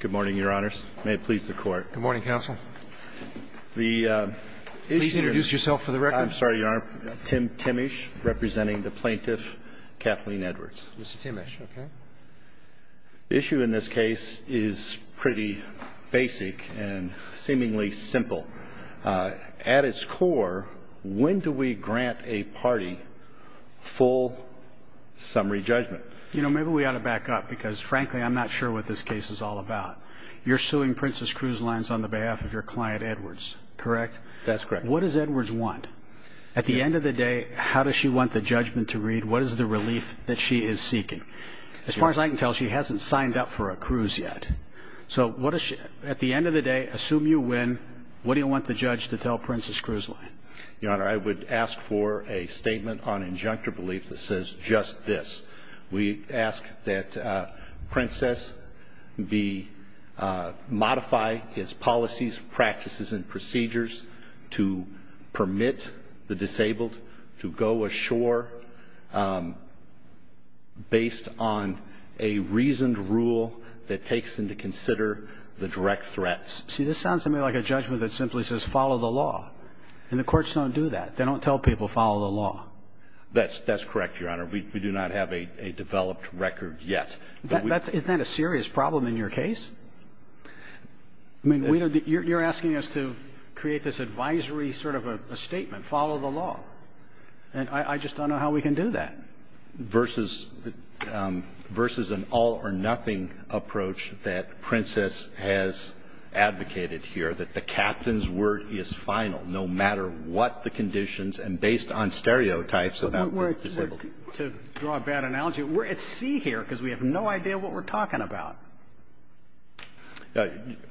Good morning, Your Honors. May it please the Court. Good morning, Counsel. Please introduce yourself for the record. I'm sorry, Your Honor. Tim Timmish, representing the plaintiff Kathleen Edwards. Mr. Timmish, okay. The issue in this case is pretty basic and seemingly simple. At its core, when do we grant a party full summary judgment? You know, maybe we ought to back up because, frankly, I'm not sure what this case is all about. You're suing Princess Cruise Lines on the behalf of your client, Edwards, correct? That's correct. What does Edwards want? At the end of the day, how does she want the judgment to read? What is the relief that she is seeking? As far as I can tell, she hasn't signed up for a cruise yet. So at the end of the day, assume you win, what do you want the judge to tell Princess Cruise Line? Your Honor, I would ask for a statement on injunctive belief that says just this. We ask that Princess modify his policies, practices, and procedures to permit the disabled to go ashore based on a reasoned rule that takes them to consider the direct threats. See, this sounds to me like a judgment that simply says follow the law. And the courts don't do that. They don't tell people follow the law. That's correct, Your Honor. We do not have a developed record yet. Isn't that a serious problem in your case? I mean, you're asking us to create this advisory sort of a statement, follow the law. And I just don't know how we can do that. Versus an all-or-nothing approach that Princess has advocated here, that the captain's word is final, no matter what the conditions and based on stereotypes about the disabled. To draw a bad analogy, we're at sea here because we have no idea what we're talking about.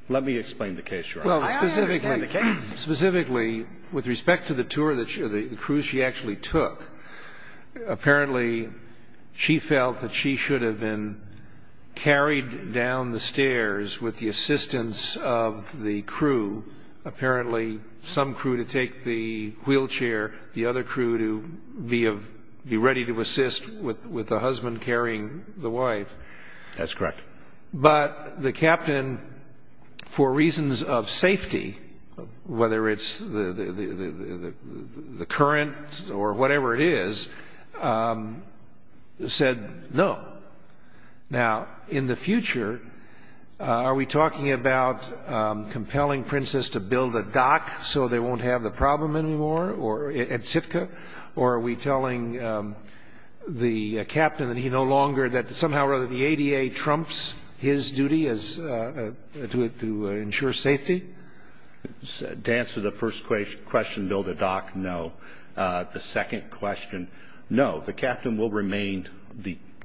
Let me explain the case, Your Honor. I understand the case. Specifically, with respect to the tour that the cruise she actually took, apparently she felt that she should have been carried down the stairs with the assistance of the crew. Apparently, some crew to take the wheelchair, the other crew to be ready to assist with the husband carrying the wife. That's correct. But the captain, for reasons of safety, whether it's the current or whatever it is, said no. Now, in the future, are we talking about compelling Princess to build a dock so they won't have the problem anymore at Sitka? Or are we telling the captain that somehow or other the ADA trumps his duty to ensure safety? To answer the first question, build a dock, no. The second question, no. The captain will remain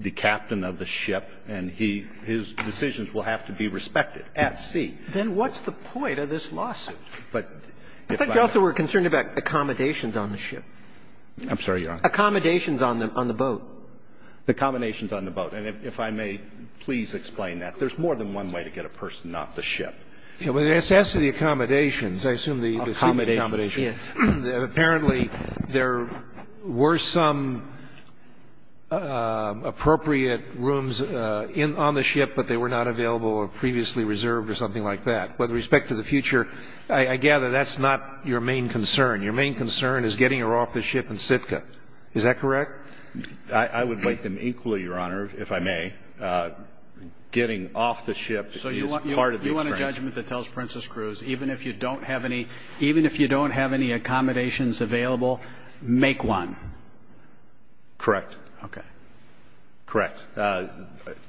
the captain of the ship, and his decisions will have to be respected at sea. Then what's the point of this lawsuit? I thought you also were concerned about accommodations on the ship. I'm sorry, Your Honor. Accommodations on the boat. Accommodations on the boat. And if I may please explain that. There's more than one way to get a person off the ship. With the necessity of accommodations, I assume the seat accommodations. Yes. Apparently, there were some appropriate rooms on the ship, but they were not available or previously reserved or something like that. With respect to the future, I gather that's not your main concern. Your main concern is getting her off the ship in Sitka. Is that correct? I would weight them equally, Your Honor, if I may. Getting off the ship is part of the experience. Even if you don't have any accommodations available, make one. Correct. Okay. Correct.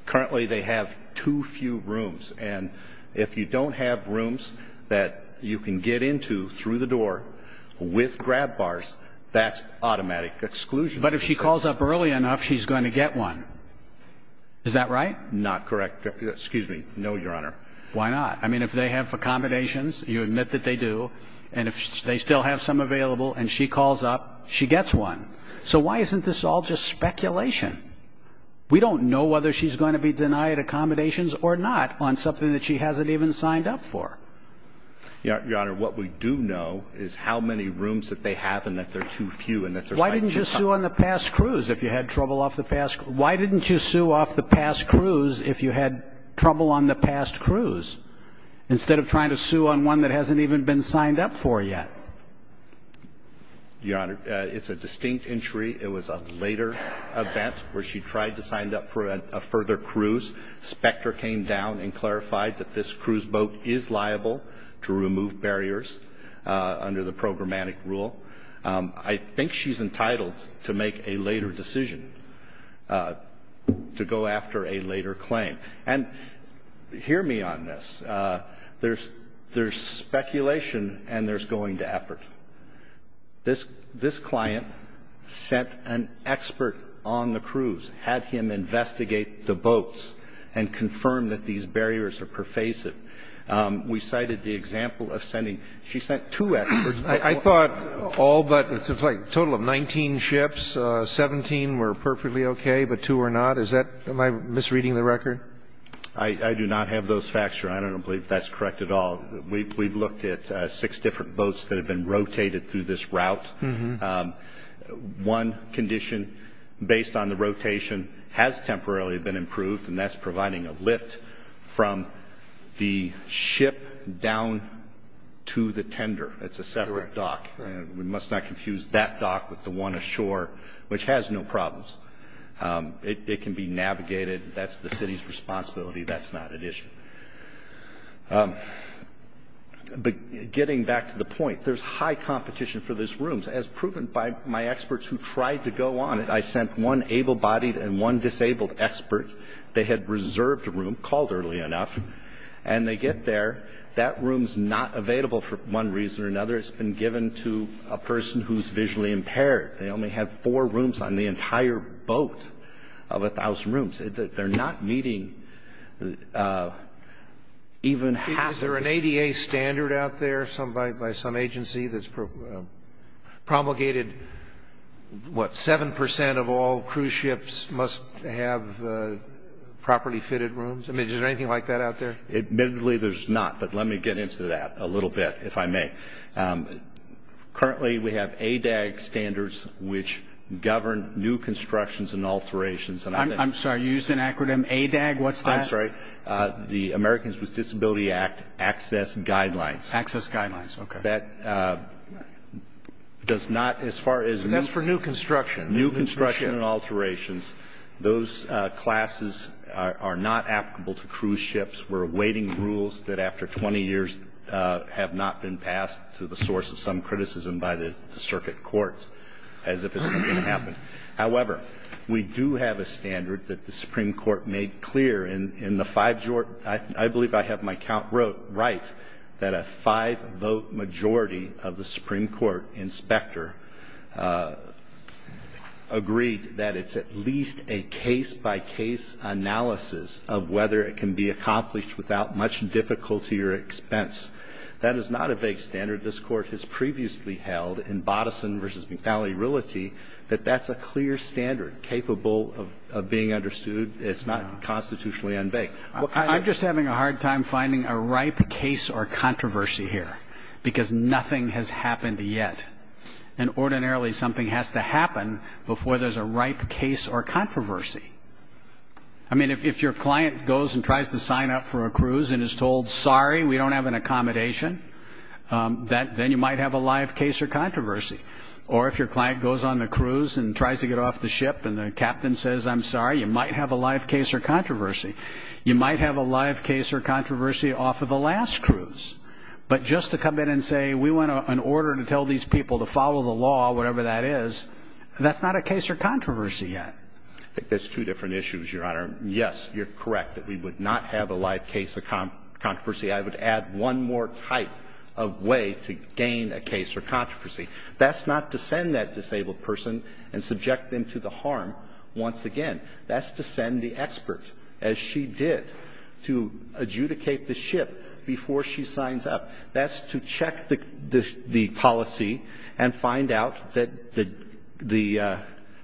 Currently, they have too few rooms. And if you don't have rooms that you can get into through the door with grab bars, that's automatic exclusion. But if she calls up early enough, she's going to get one. Is that right? Not correct. Excuse me. No, Your Honor. Why not? I mean, if they have accommodations, you admit that they do. And if they still have some available and she calls up, she gets one. So why isn't this all just speculation? We don't know whether she's going to be denied accommodations or not on something that she hasn't even signed up for. Your Honor, what we do know is how many rooms that they have and that they're too few and that they're fighting to cover. Why didn't you sue off the past cruise if you had trouble on the past cruise, instead of trying to sue on one that hasn't even been signed up for yet? Your Honor, it's a distinct entry. It was a later event where she tried to sign up for a further cruise. Specter came down and clarified that this cruise boat is liable to remove barriers under the programmatic rule. I think she's entitled to make a later decision, to go after a later claim. And hear me on this. There's speculation and there's going to effort. This client sent an expert on the cruise, had him investigate the boats and confirm that these barriers are pervasive. We cited the example of sending. She sent two experts. I thought all but a total of 19 ships, 17 were perfectly okay, but two were not. Am I misreading the record? I do not have those facts, Your Honor. I don't believe that's correct at all. We've looked at six different boats that have been rotated through this route. One condition based on the rotation has temporarily been improved, and that's providing a lift from the ship down to the tender. It's a separate dock. We must not confuse that dock with the one ashore, which has no problems. It can be navigated. That's the city's responsibility. That's not at issue. But getting back to the point, there's high competition for this room. As proven by my experts who tried to go on it, I sent one able-bodied and one disabled expert. They had reserved a room, called early enough, and they get there. That room's not available for one reason or another. It's been given to a person who's visually impaired. They only have four rooms on the entire boat of 1,000 rooms. They're not meeting even half of it. Is there an ADA standard out there by some agency that's promulgated, what, 7 percent of all cruise ships must have properly fitted rooms? I mean, is there anything like that out there? Admittedly, there's not, but let me get into that a little bit, if I may. Currently, we have ADAG standards, which govern new constructions and alterations. I'm sorry. You used an acronym? ADAG? What's that? I'm sorry. The Americans with Disability Act Access Guidelines. Access Guidelines. Okay. That does not, as far as new construction and alterations, those classes are not applicable to cruise ships. We're awaiting rules that, after 20 years, have not been passed to the source of some criticism by the circuit courts, as if it's not going to happen. However, we do have a standard that the Supreme Court made clear. I believe I have my count right that a five-vote majority of the Supreme Court inspector agreed that it's at least a case-by-case analysis of whether it can be accomplished without much difficulty or expense. That is not a vague standard. This Court has previously held, in Boddison v. McFally-Rilety, that that's a clear standard capable of being understood. It's not constitutionally un-vague. I'm just having a hard time finding a ripe case or controversy here, because nothing has happened yet. And ordinarily something has to happen before there's a ripe case or controversy. I mean, if your client goes and tries to sign up for a cruise and is told, sorry, we don't have an accommodation, then you might have a live case or controversy. Or if your client goes on the cruise and tries to get off the ship and the captain says, I'm sorry, you might have a live case or controversy. You might have a live case or controversy off of the last cruise. But just to come in and say, we want an order to tell these people to follow the law, whatever that is, that's not a case or controversy yet. I think there's two different issues, Your Honor. Yes, you're correct that we would not have a live case or controversy. I would add one more type of way to gain a case or controversy. That's not to send that disabled person and subject them to the harm once again. That's to send the expert, as she did, to adjudicate the ship before she signs up. That's to check the policy and find out that the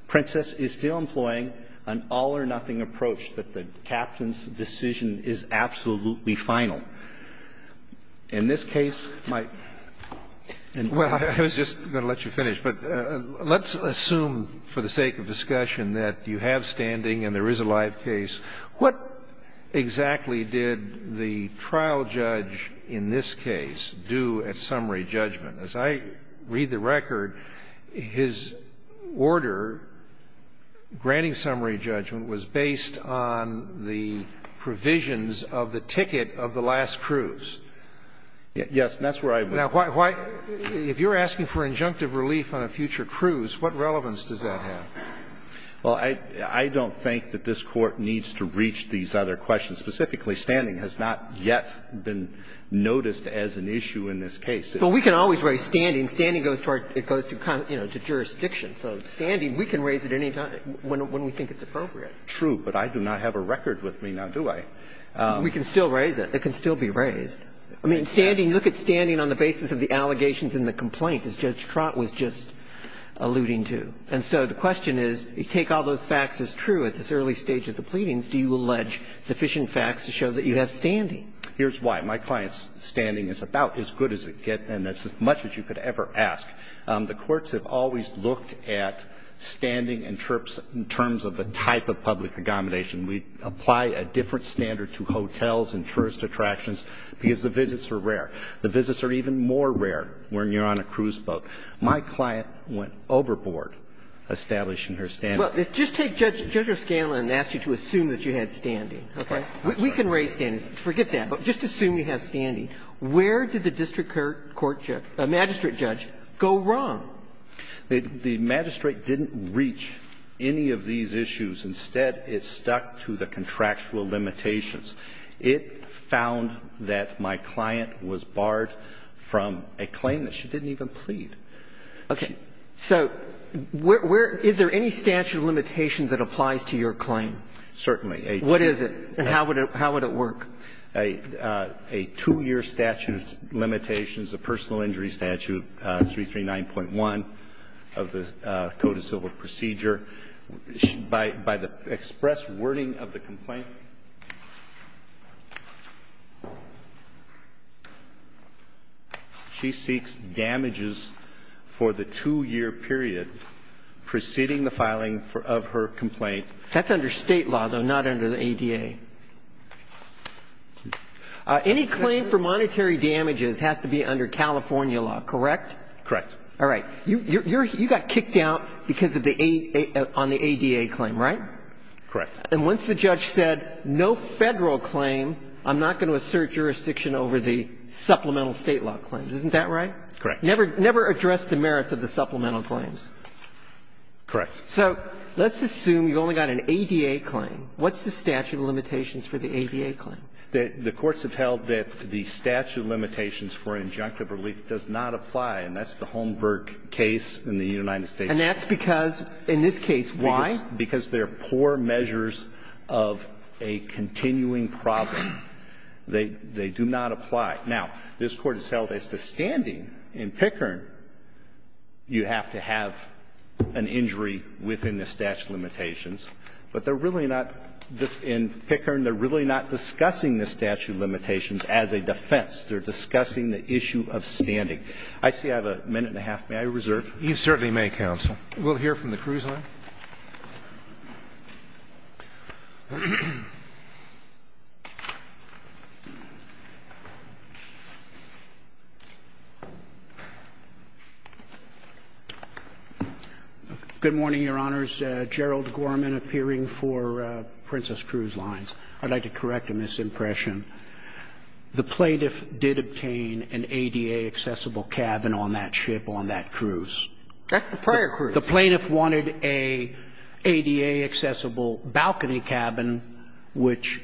Princess is still employing an all-or-nothing approach, that the captain's decision is absolutely final. In this case, my ---- Well, I was just going to let you finish. But let's assume for the sake of discussion that you have standing and there is a live case, what exactly did the trial judge in this case do at summary judgment? As I read the record, his order granting summary judgment was based on the provisions of the ticket of the last cruise. Yes, that's where I ---- Now, if you're asking for injunctive relief on a future cruise, what relevance does that have? Well, I don't think that this Court needs to reach these other questions. Specifically, standing has not yet been noticed as an issue in this case. Well, we can always raise standing. Standing goes to our ---- it goes to, you know, to jurisdiction. So standing, we can raise it any time when we think it's appropriate. True. But I do not have a record with me now, do I? We can still raise it. It can still be raised. I mean, standing, look at standing on the basis of the allegations in the complaint, as Judge Trott was just alluding to. And so the question is, you take all those facts as true at this early stage of the pleadings, do you allege sufficient facts to show that you have standing? Here's why. My client's standing is about as good as it gets, and that's as much as you could ever ask. The courts have always looked at standing and trips in terms of the type of public aggomination. We apply a different standard to hotels and tourist attractions because the visits are rare. The visits are even more rare when you're on a cruise boat. My client went overboard establishing her standing. Well, just take Judge O'Scanlan and ask you to assume that you had standing, okay? We can raise standing. Forget that. But just assume you have standing. Where did the district court judge ---- magistrate judge go wrong? The magistrate didn't reach any of these issues. Instead, it stuck to the contractual limitations. It found that my client was barred from a claim that she didn't even plead. Okay. So where ---- is there any statute of limitations that applies to your claim? Certainly. What is it? And how would it work? A two-year statute of limitations, a personal injury statute, 339.1 of the Code of Civil Procedure. By the express wording of the complaint, she seeks damages for the two-year period preceding the filing of her complaint. That's under state law, though, not under the ADA. Any claim for monetary damages has to be under California law, correct? Correct. All right. You got kicked out because of the ---- on the ADA claim, right? Correct. And once the judge said no Federal claim, I'm not going to assert jurisdiction over the supplemental state law claims. Isn't that right? Correct. Never address the merits of the supplemental claims. Correct. So let's assume you've only got an ADA claim. What's the statute of limitations for the ADA claim? The courts have held that the statute of limitations for injunctive relief does not apply in this case in the United States. And that's because in this case, why? Because they're poor measures of a continuing problem. They do not apply. Now, this Court has held as to standing in Pickern, you have to have an injury within the statute of limitations. But they're really not, in Pickern, they're really not discussing the statute of limitations as a defense. They're discussing the issue of standing. I see I have a minute and a half. May I reserve? You certainly may, counsel. We'll hear from the cruise line. Good morning, Your Honors. Gerald Gorman appearing for Princess Cruise Lines. I'd like to correct a misimpression. The plaintiff did obtain an ADA-accessible cabin on that ship on that cruise. That's the prior cruise. The plaintiff wanted an ADA-accessible balcony cabin, which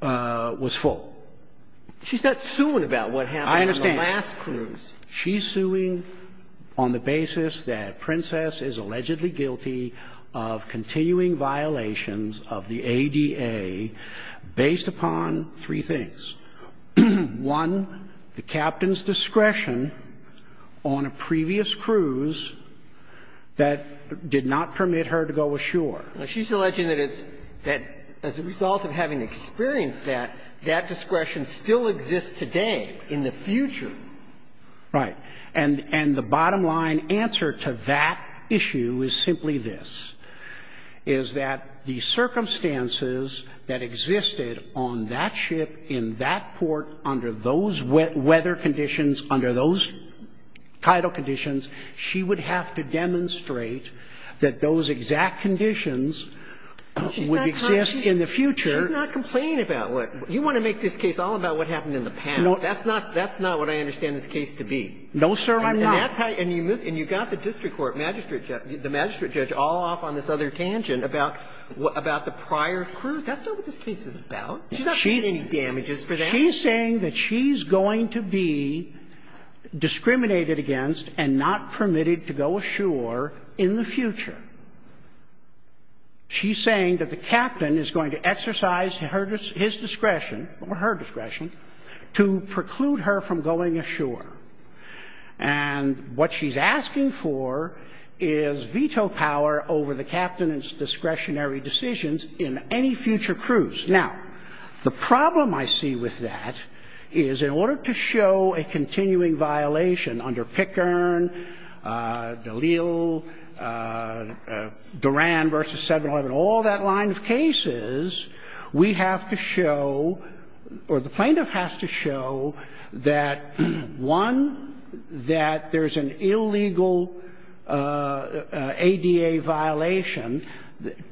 was full. She's not suing about what happened on the last cruise. I understand. She's suing on the basis that Princess is allegedly guilty of continuing violations of the ADA based upon three things. One, the captain's discretion on a previous cruise that did not permit her to go ashore. Well, she's alleging that it's as a result of having experienced that, that discretion still exists today in the future. Right. And the bottom line answer to that issue is simply this, is that the circumstances that existed on that ship in that port under those weather conditions, under those tidal conditions, she would have to demonstrate that those exact conditions would exist in the future. She's not complaining about what you want to make this case all about what happened in the past. That's not what I understand this case to be. No, sir, I'm not. And that's how you move this. And you got the district court, the magistrate judge, all off on this other tangent about the prior cruise. That's not what this case is about. She's not doing any damages for that. She's saying that she's going to be discriminated against and not permitted to go ashore in the future. She's saying that the captain is going to exercise his discretion or her discretion to preclude her from going ashore. And what she's asking for is veto power over the captain's discretionary decisions in any future cruise. Now, the problem I see with that is in order to show a continuing violation under Pickern, Dalil, Duran versus 7-Eleven, all that line of cases, we have to show, or the plaintiff has to show, that, one, that there's an illegal ADA violation,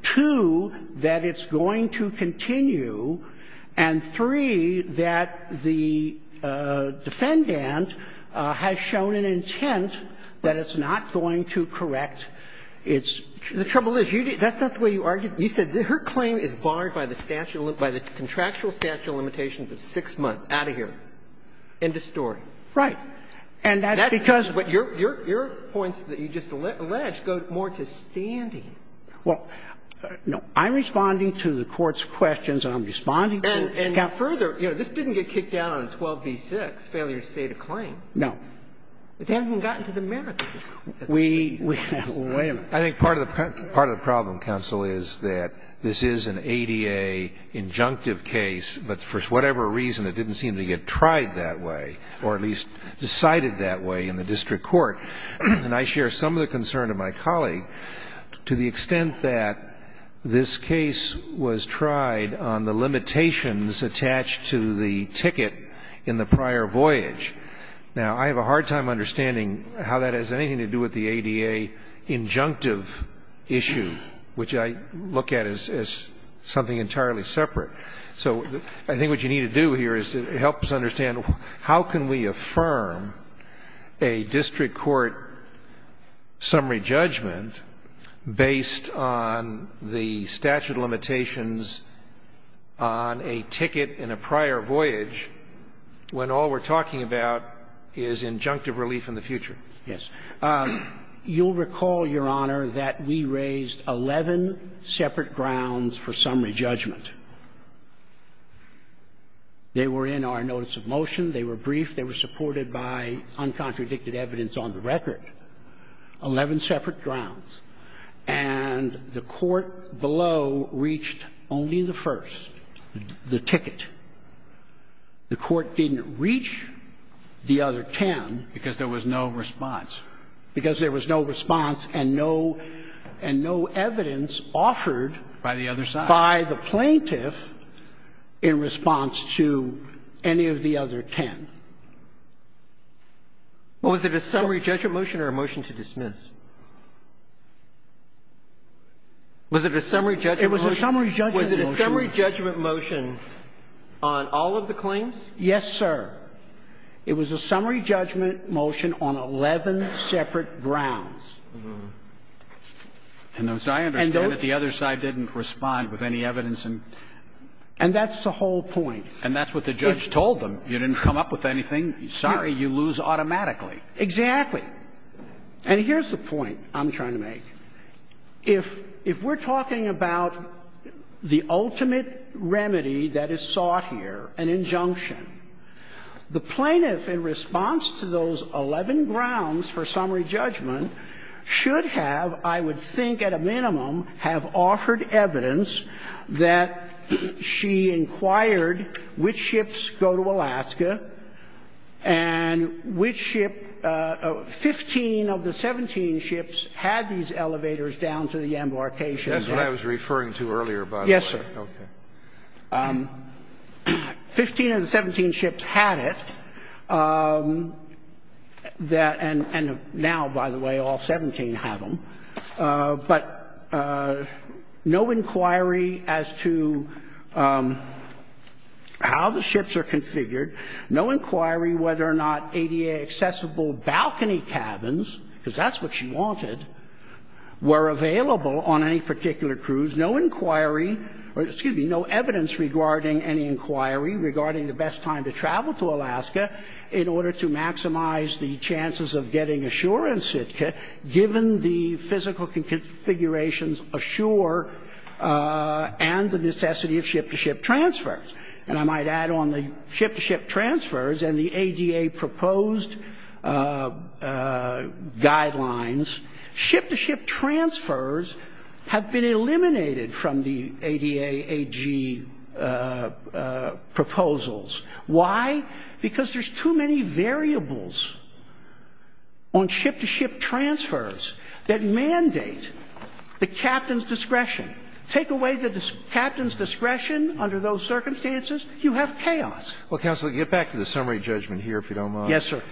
two, that it's going to continue, and, three, that the defendant has shown an intent that it's not going to correct its trouble. The trouble is, that's not the way you argued. You said her claim is barred by the contractual statute of limitations of 6 months. Out of here. End of story. Right. And that's because your points that you just alleged go more to standing. Well, no. I'm responding to the Court's questions, and I'm responding to the Court's counsel. And further, you know, this didn't get kicked out on 12b-6, failure to state a claim. No. But they haven't even gotten to the merits of this. We haven't. I think part of the problem, counsel, is that this is an ADA injunctive case, but for whatever reason it didn't seem to get tried that way, or at least decided that way in the district court. And I share some of the concern of my colleague to the extent that this case was tried on the limitations attached to the ticket in the prior voyage. Now, I have a hard time understanding how that has anything to do with the ADA injunctive issue, which I look at as something entirely separate. So I think what you need to do here is help us understand how can we affirm a district court summary judgment based on the statute of limitations on a ticket in a prior voyage when all we're talking about is injunctive relief in the future. Yes. You'll recall, Your Honor, that we raised 11 separate grounds for summary judgment. They were in our notice of motion. They were brief. They were supported by uncontradicted evidence on the record, 11 separate grounds. And the court below reached only the first, the ticket. The court didn't reach the other 10. Because there was no response. Because there was no response and no evidence offered by the plaintiff in response to any of the other 10. So the question is, was it a summary judgment motion? It was a summary judgment motion. Was it a summary judgment motion on all of the claims? Yes, sir. It was a summary judgment motion on 11 separate grounds. And so I understand that the other side didn't respond with any evidence. And that's the whole point. And that's what the judge told them. You didn't come up with anything. Sorry, you lose automatically. Exactly. And here's the point I'm trying to make. If we're talking about the ultimate remedy that is sought here, an injunction, the plaintiff in response to those 11 grounds for summary judgment should have, I would think at a minimum, have offered evidence that she inquired which ships go to Alaska and which ship 15 of the 17 ships had these elevators down to the embarkation. That's what I was referring to earlier, by the way. Yes, sir. Okay. Fifteen of the 17 ships had it. And now, by the way, all 17 have them. But no inquiry as to how the ships are configured. No inquiry whether or not ADA-accessible balcony cabins, because that's what she wanted, were available on any particular cruise. No inquiry or, excuse me, no evidence regarding any inquiry regarding the best time to travel to Alaska in order to maximize the chances of getting assurance, given the physical configurations ashore and the necessity of ship-to-ship transfers. And I might add on the ship-to-ship transfers and the ADA proposed guidelines, ship-to-ship transfers have been eliminated from the ADA AG proposals. Why? Because there's too many variables on ship-to-ship transfers that mandate the captain's discretion. Take away the captain's discretion under those circumstances, you have chaos. Well, counsel, get back to the summary judgment here, if you don't mind. Yes, sir.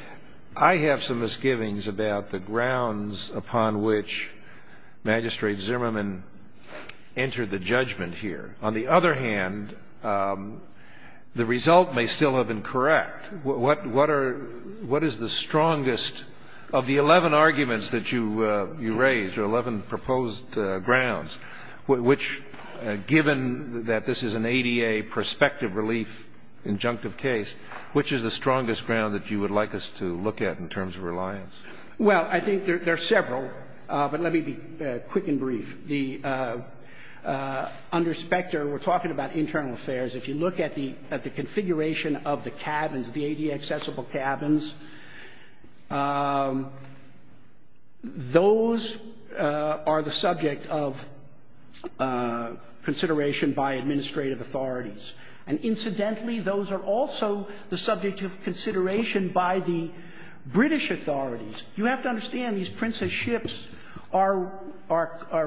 I have some misgivings about the grounds upon which Magistrate Zimmerman entered the judgment here. On the other hand, the result may still have been correct. What are the strongest of the 11 arguments that you raised, or 11 proposed grounds, which, given that this is an ADA prospective relief injunctive case, which is the strongest ground that you would like us to look at in terms of reliance? Well, I think there are several, but let me be quick and brief. Under Specter, we're talking about internal affairs. If you look at the configuration of the cabins, the ADA-accessible cabins, those are the subject of consideration by administrative authorities. And incidentally, those are also the subject of consideration by the British authorities. You have to understand, these Princess ships are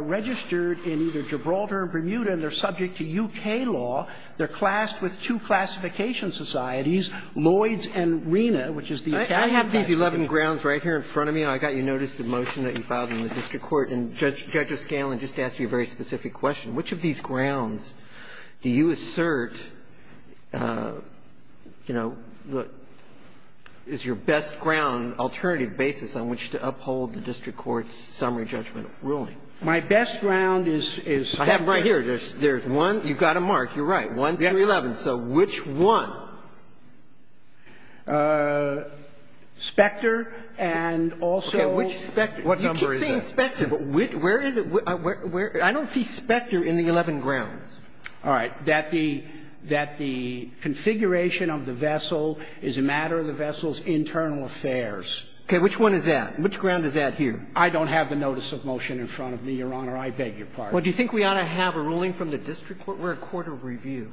registered in either Gibraltar or Bermuda, and they're subject to U.K. law. They're classed with two classification societies, Lloyd's and Rina, which is the academy classification. I have these 11 grounds right here in front of me. I got your notice of motion that you filed in the district court. And Judge O'Scanlan just asked you a very specific question. Which of these grounds do you assert, you know, is your best ground, alternative basis on which to uphold the district court's summary judgment ruling? My best ground is Specter. I have it right here. There's one. You've got to mark. You're right. One, three, 11. So which one? Specter and also what number is that? You keep saying Specter. But where is it? I don't see Specter in the 11 grounds. All right. That the configuration of the vessel is a matter of the vessel's internal affairs. Okay. Which one is that? Which ground is that here? I don't have the notice of motion in front of me, Your Honor. I beg your pardon. Well, do you think we ought to have a ruling from the district court? We're a court of review.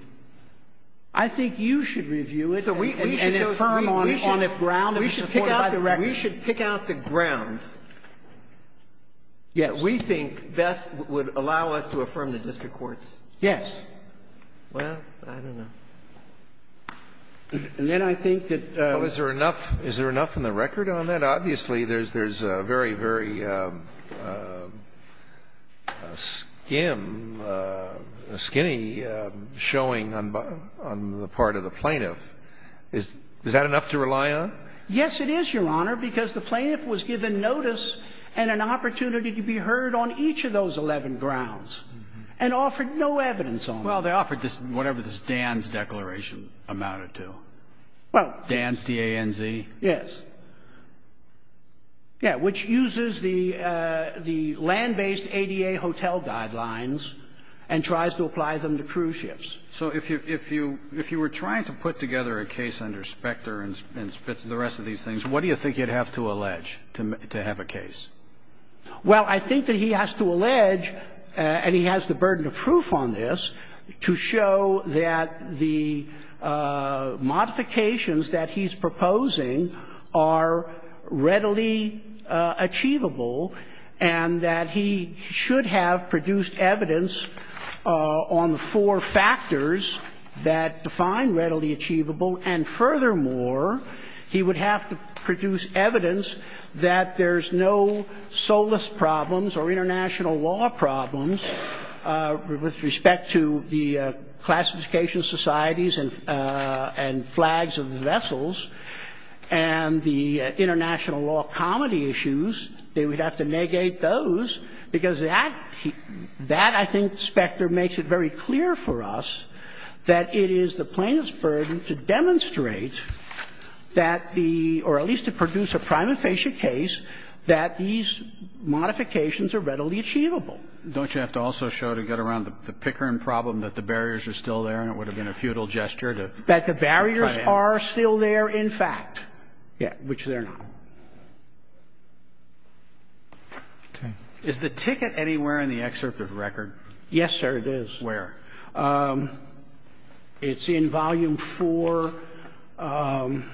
I think you should review it. So we should affirm on if ground is supported by the record. We should pick out the ground. Yes. We think best would allow us to affirm the district courts. Yes. Well, I don't know. And then I think that there's a very, very skim, skinny showing on the part of the plaintiff. Is that enough to rely on? Yes, it is, Your Honor, because the plaintiff was given notice and an opportunity to be heard on each of those 11 grounds and offered no evidence on it. Well, they offered whatever this Danz declaration amounted to. Danz, D-A-N-Z? Yes. Yeah, which uses the land-based ADA hotel guidelines and tries to apply them to cruise ships. So if you were trying to put together a case under Specter and Spitzer and the rest of these things, what do you think you'd have to allege to have a case? Well, I think that he has to allege, and he has the burden of proof on this, to show that the modifications that he's proposing are readily achievable and that he should have produced evidence on the four factors that define readily achievable. And furthermore, he would have to produce evidence that there's no solace problems or international law problems with respect to the classification societies and flags of the vessels and the international law comedy issues. They would have to negate those, because that, I think, Specter makes it very clear for us that it is the plaintiff's burden to demonstrate that the or at least to produce a prima facie case that these modifications are readily achievable. Don't you have to also show to get around the Pickering problem that the barriers are still there and it would have been a futile gesture to try to end it? That the barriers are still there, in fact. Yeah, which they're not. Okay. Is the ticket anywhere in the excerpt of the record? Yes, sir, it is. Where? It's in Volume IV. I'm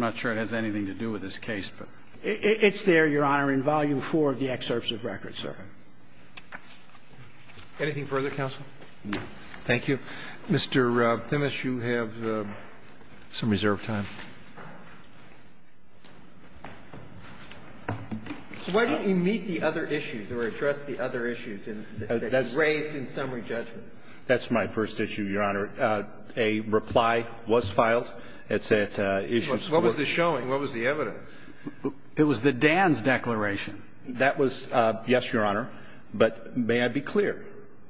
not sure it has anything to do with this case, but. It's there, Your Honor, in Volume IV of the excerpts of the record, sir. Anything further, counsel? No. Thank you. Mr. Phimis, you have some reserved time. Why don't you meet the other issues or address the other issues that you raised in summary judgment? That's my first issue, Your Honor. A reply was filed. It's at Issues 4. What was this showing? What was the evidence? It was the Dan's declaration. That was, yes, Your Honor, but may I be clear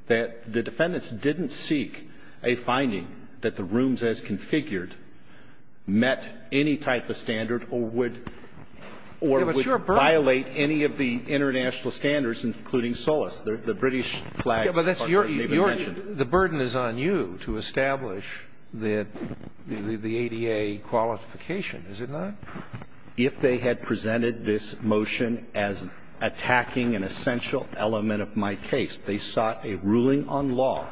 that the defendants didn't seek a finding that the rooms as configured met any type of standard or would violate any of the international standards, including SOLAS, the British flag. But that's your issue. The burden is on you to establish the ADA qualification, is it not? If they had presented this motion as attacking an essential element of my case, they sought a ruling on law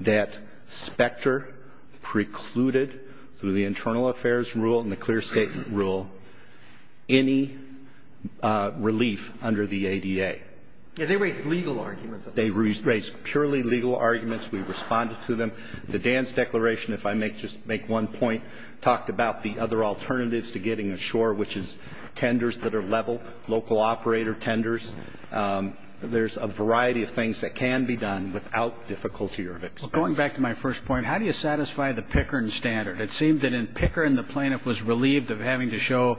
that specter precluded through the internal affairs rule and the clear statement rule any relief under the ADA. Yeah, they raised legal arguments. They raised purely legal arguments. We responded to them. The Dan's declaration, if I may just make one point, talked about the other alternatives to getting a shore, which is tenders that are level, local operator tenders. There's a variety of things that can be done without difficulty or expense. Going back to my first point, how do you satisfy the Pickern standard? It seemed that in Pickern the plaintiff was relieved of having to show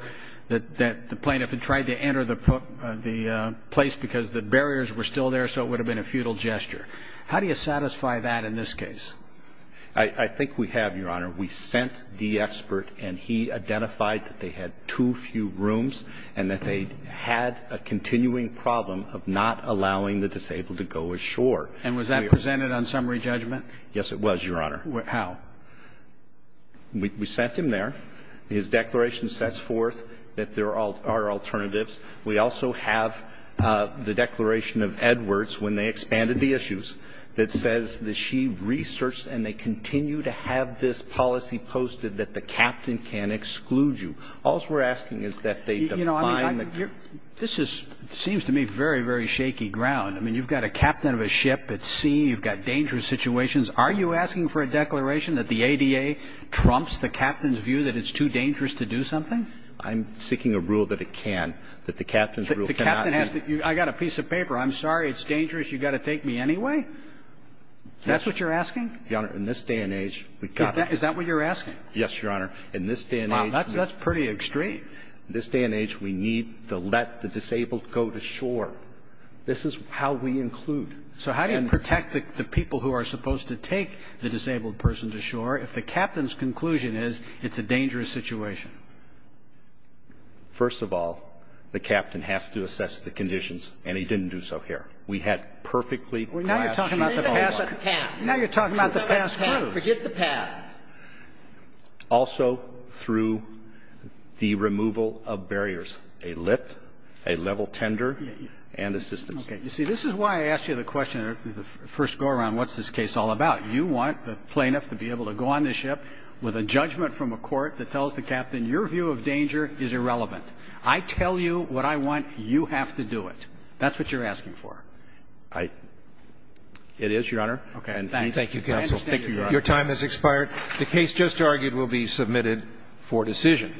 that the plaintiff had tried to enter the place because the barriers were still there, so it would have been a futile gesture. I think we have, Your Honor. We sent the expert and he identified that they had too few rooms and that they had a continuing problem of not allowing the disabled to go ashore. And was that presented on summary judgment? Yes, it was, Your Honor. How? We sent him there. His declaration sets forth that there are alternatives. We also have the declaration of Edwards when they expanded the issues that says that they continue to have this policy posted that the captain can exclude you. All's we're asking is that they define the captain. You know, I mean, this is seems to me very, very shaky ground. I mean, you've got a captain of a ship at sea. You've got dangerous situations. Are you asking for a declaration that the ADA trumps the captain's view that it's too dangerous to do something? I'm seeking a rule that it can't, that the captain's rule cannot be. The captain has to be, I got a piece of paper. I'm sorry, it's dangerous. You've got to take me anyway. That's what you're asking? Your Honor, in this day and age, we've got to. Is that what you're asking? Yes, Your Honor. In this day and age. Wow, that's pretty extreme. In this day and age, we need to let the disabled go to shore. This is how we include. So how do you protect the people who are supposed to take the disabled person to shore if the captain's conclusion is it's a dangerous situation? First of all, the captain has to assess the conditions, and he didn't do so here. We had perfectly clashed. Now you're talking about the past. Now you're talking about the past. Forget the past. Also, through the removal of barriers, a lift, a level tender, and assistance. Okay. You see, this is why I asked you the question at the first go-around, what's this case all about? You want the plaintiff to be able to go on the ship with a judgment from a court that tells the captain, your view of danger is irrelevant. I tell you what I want. You have to do it. That's what you're asking for. It is, Your Honor. Okay. Thank you, counsel. Your time has expired. The case just argued will be submitted for decision.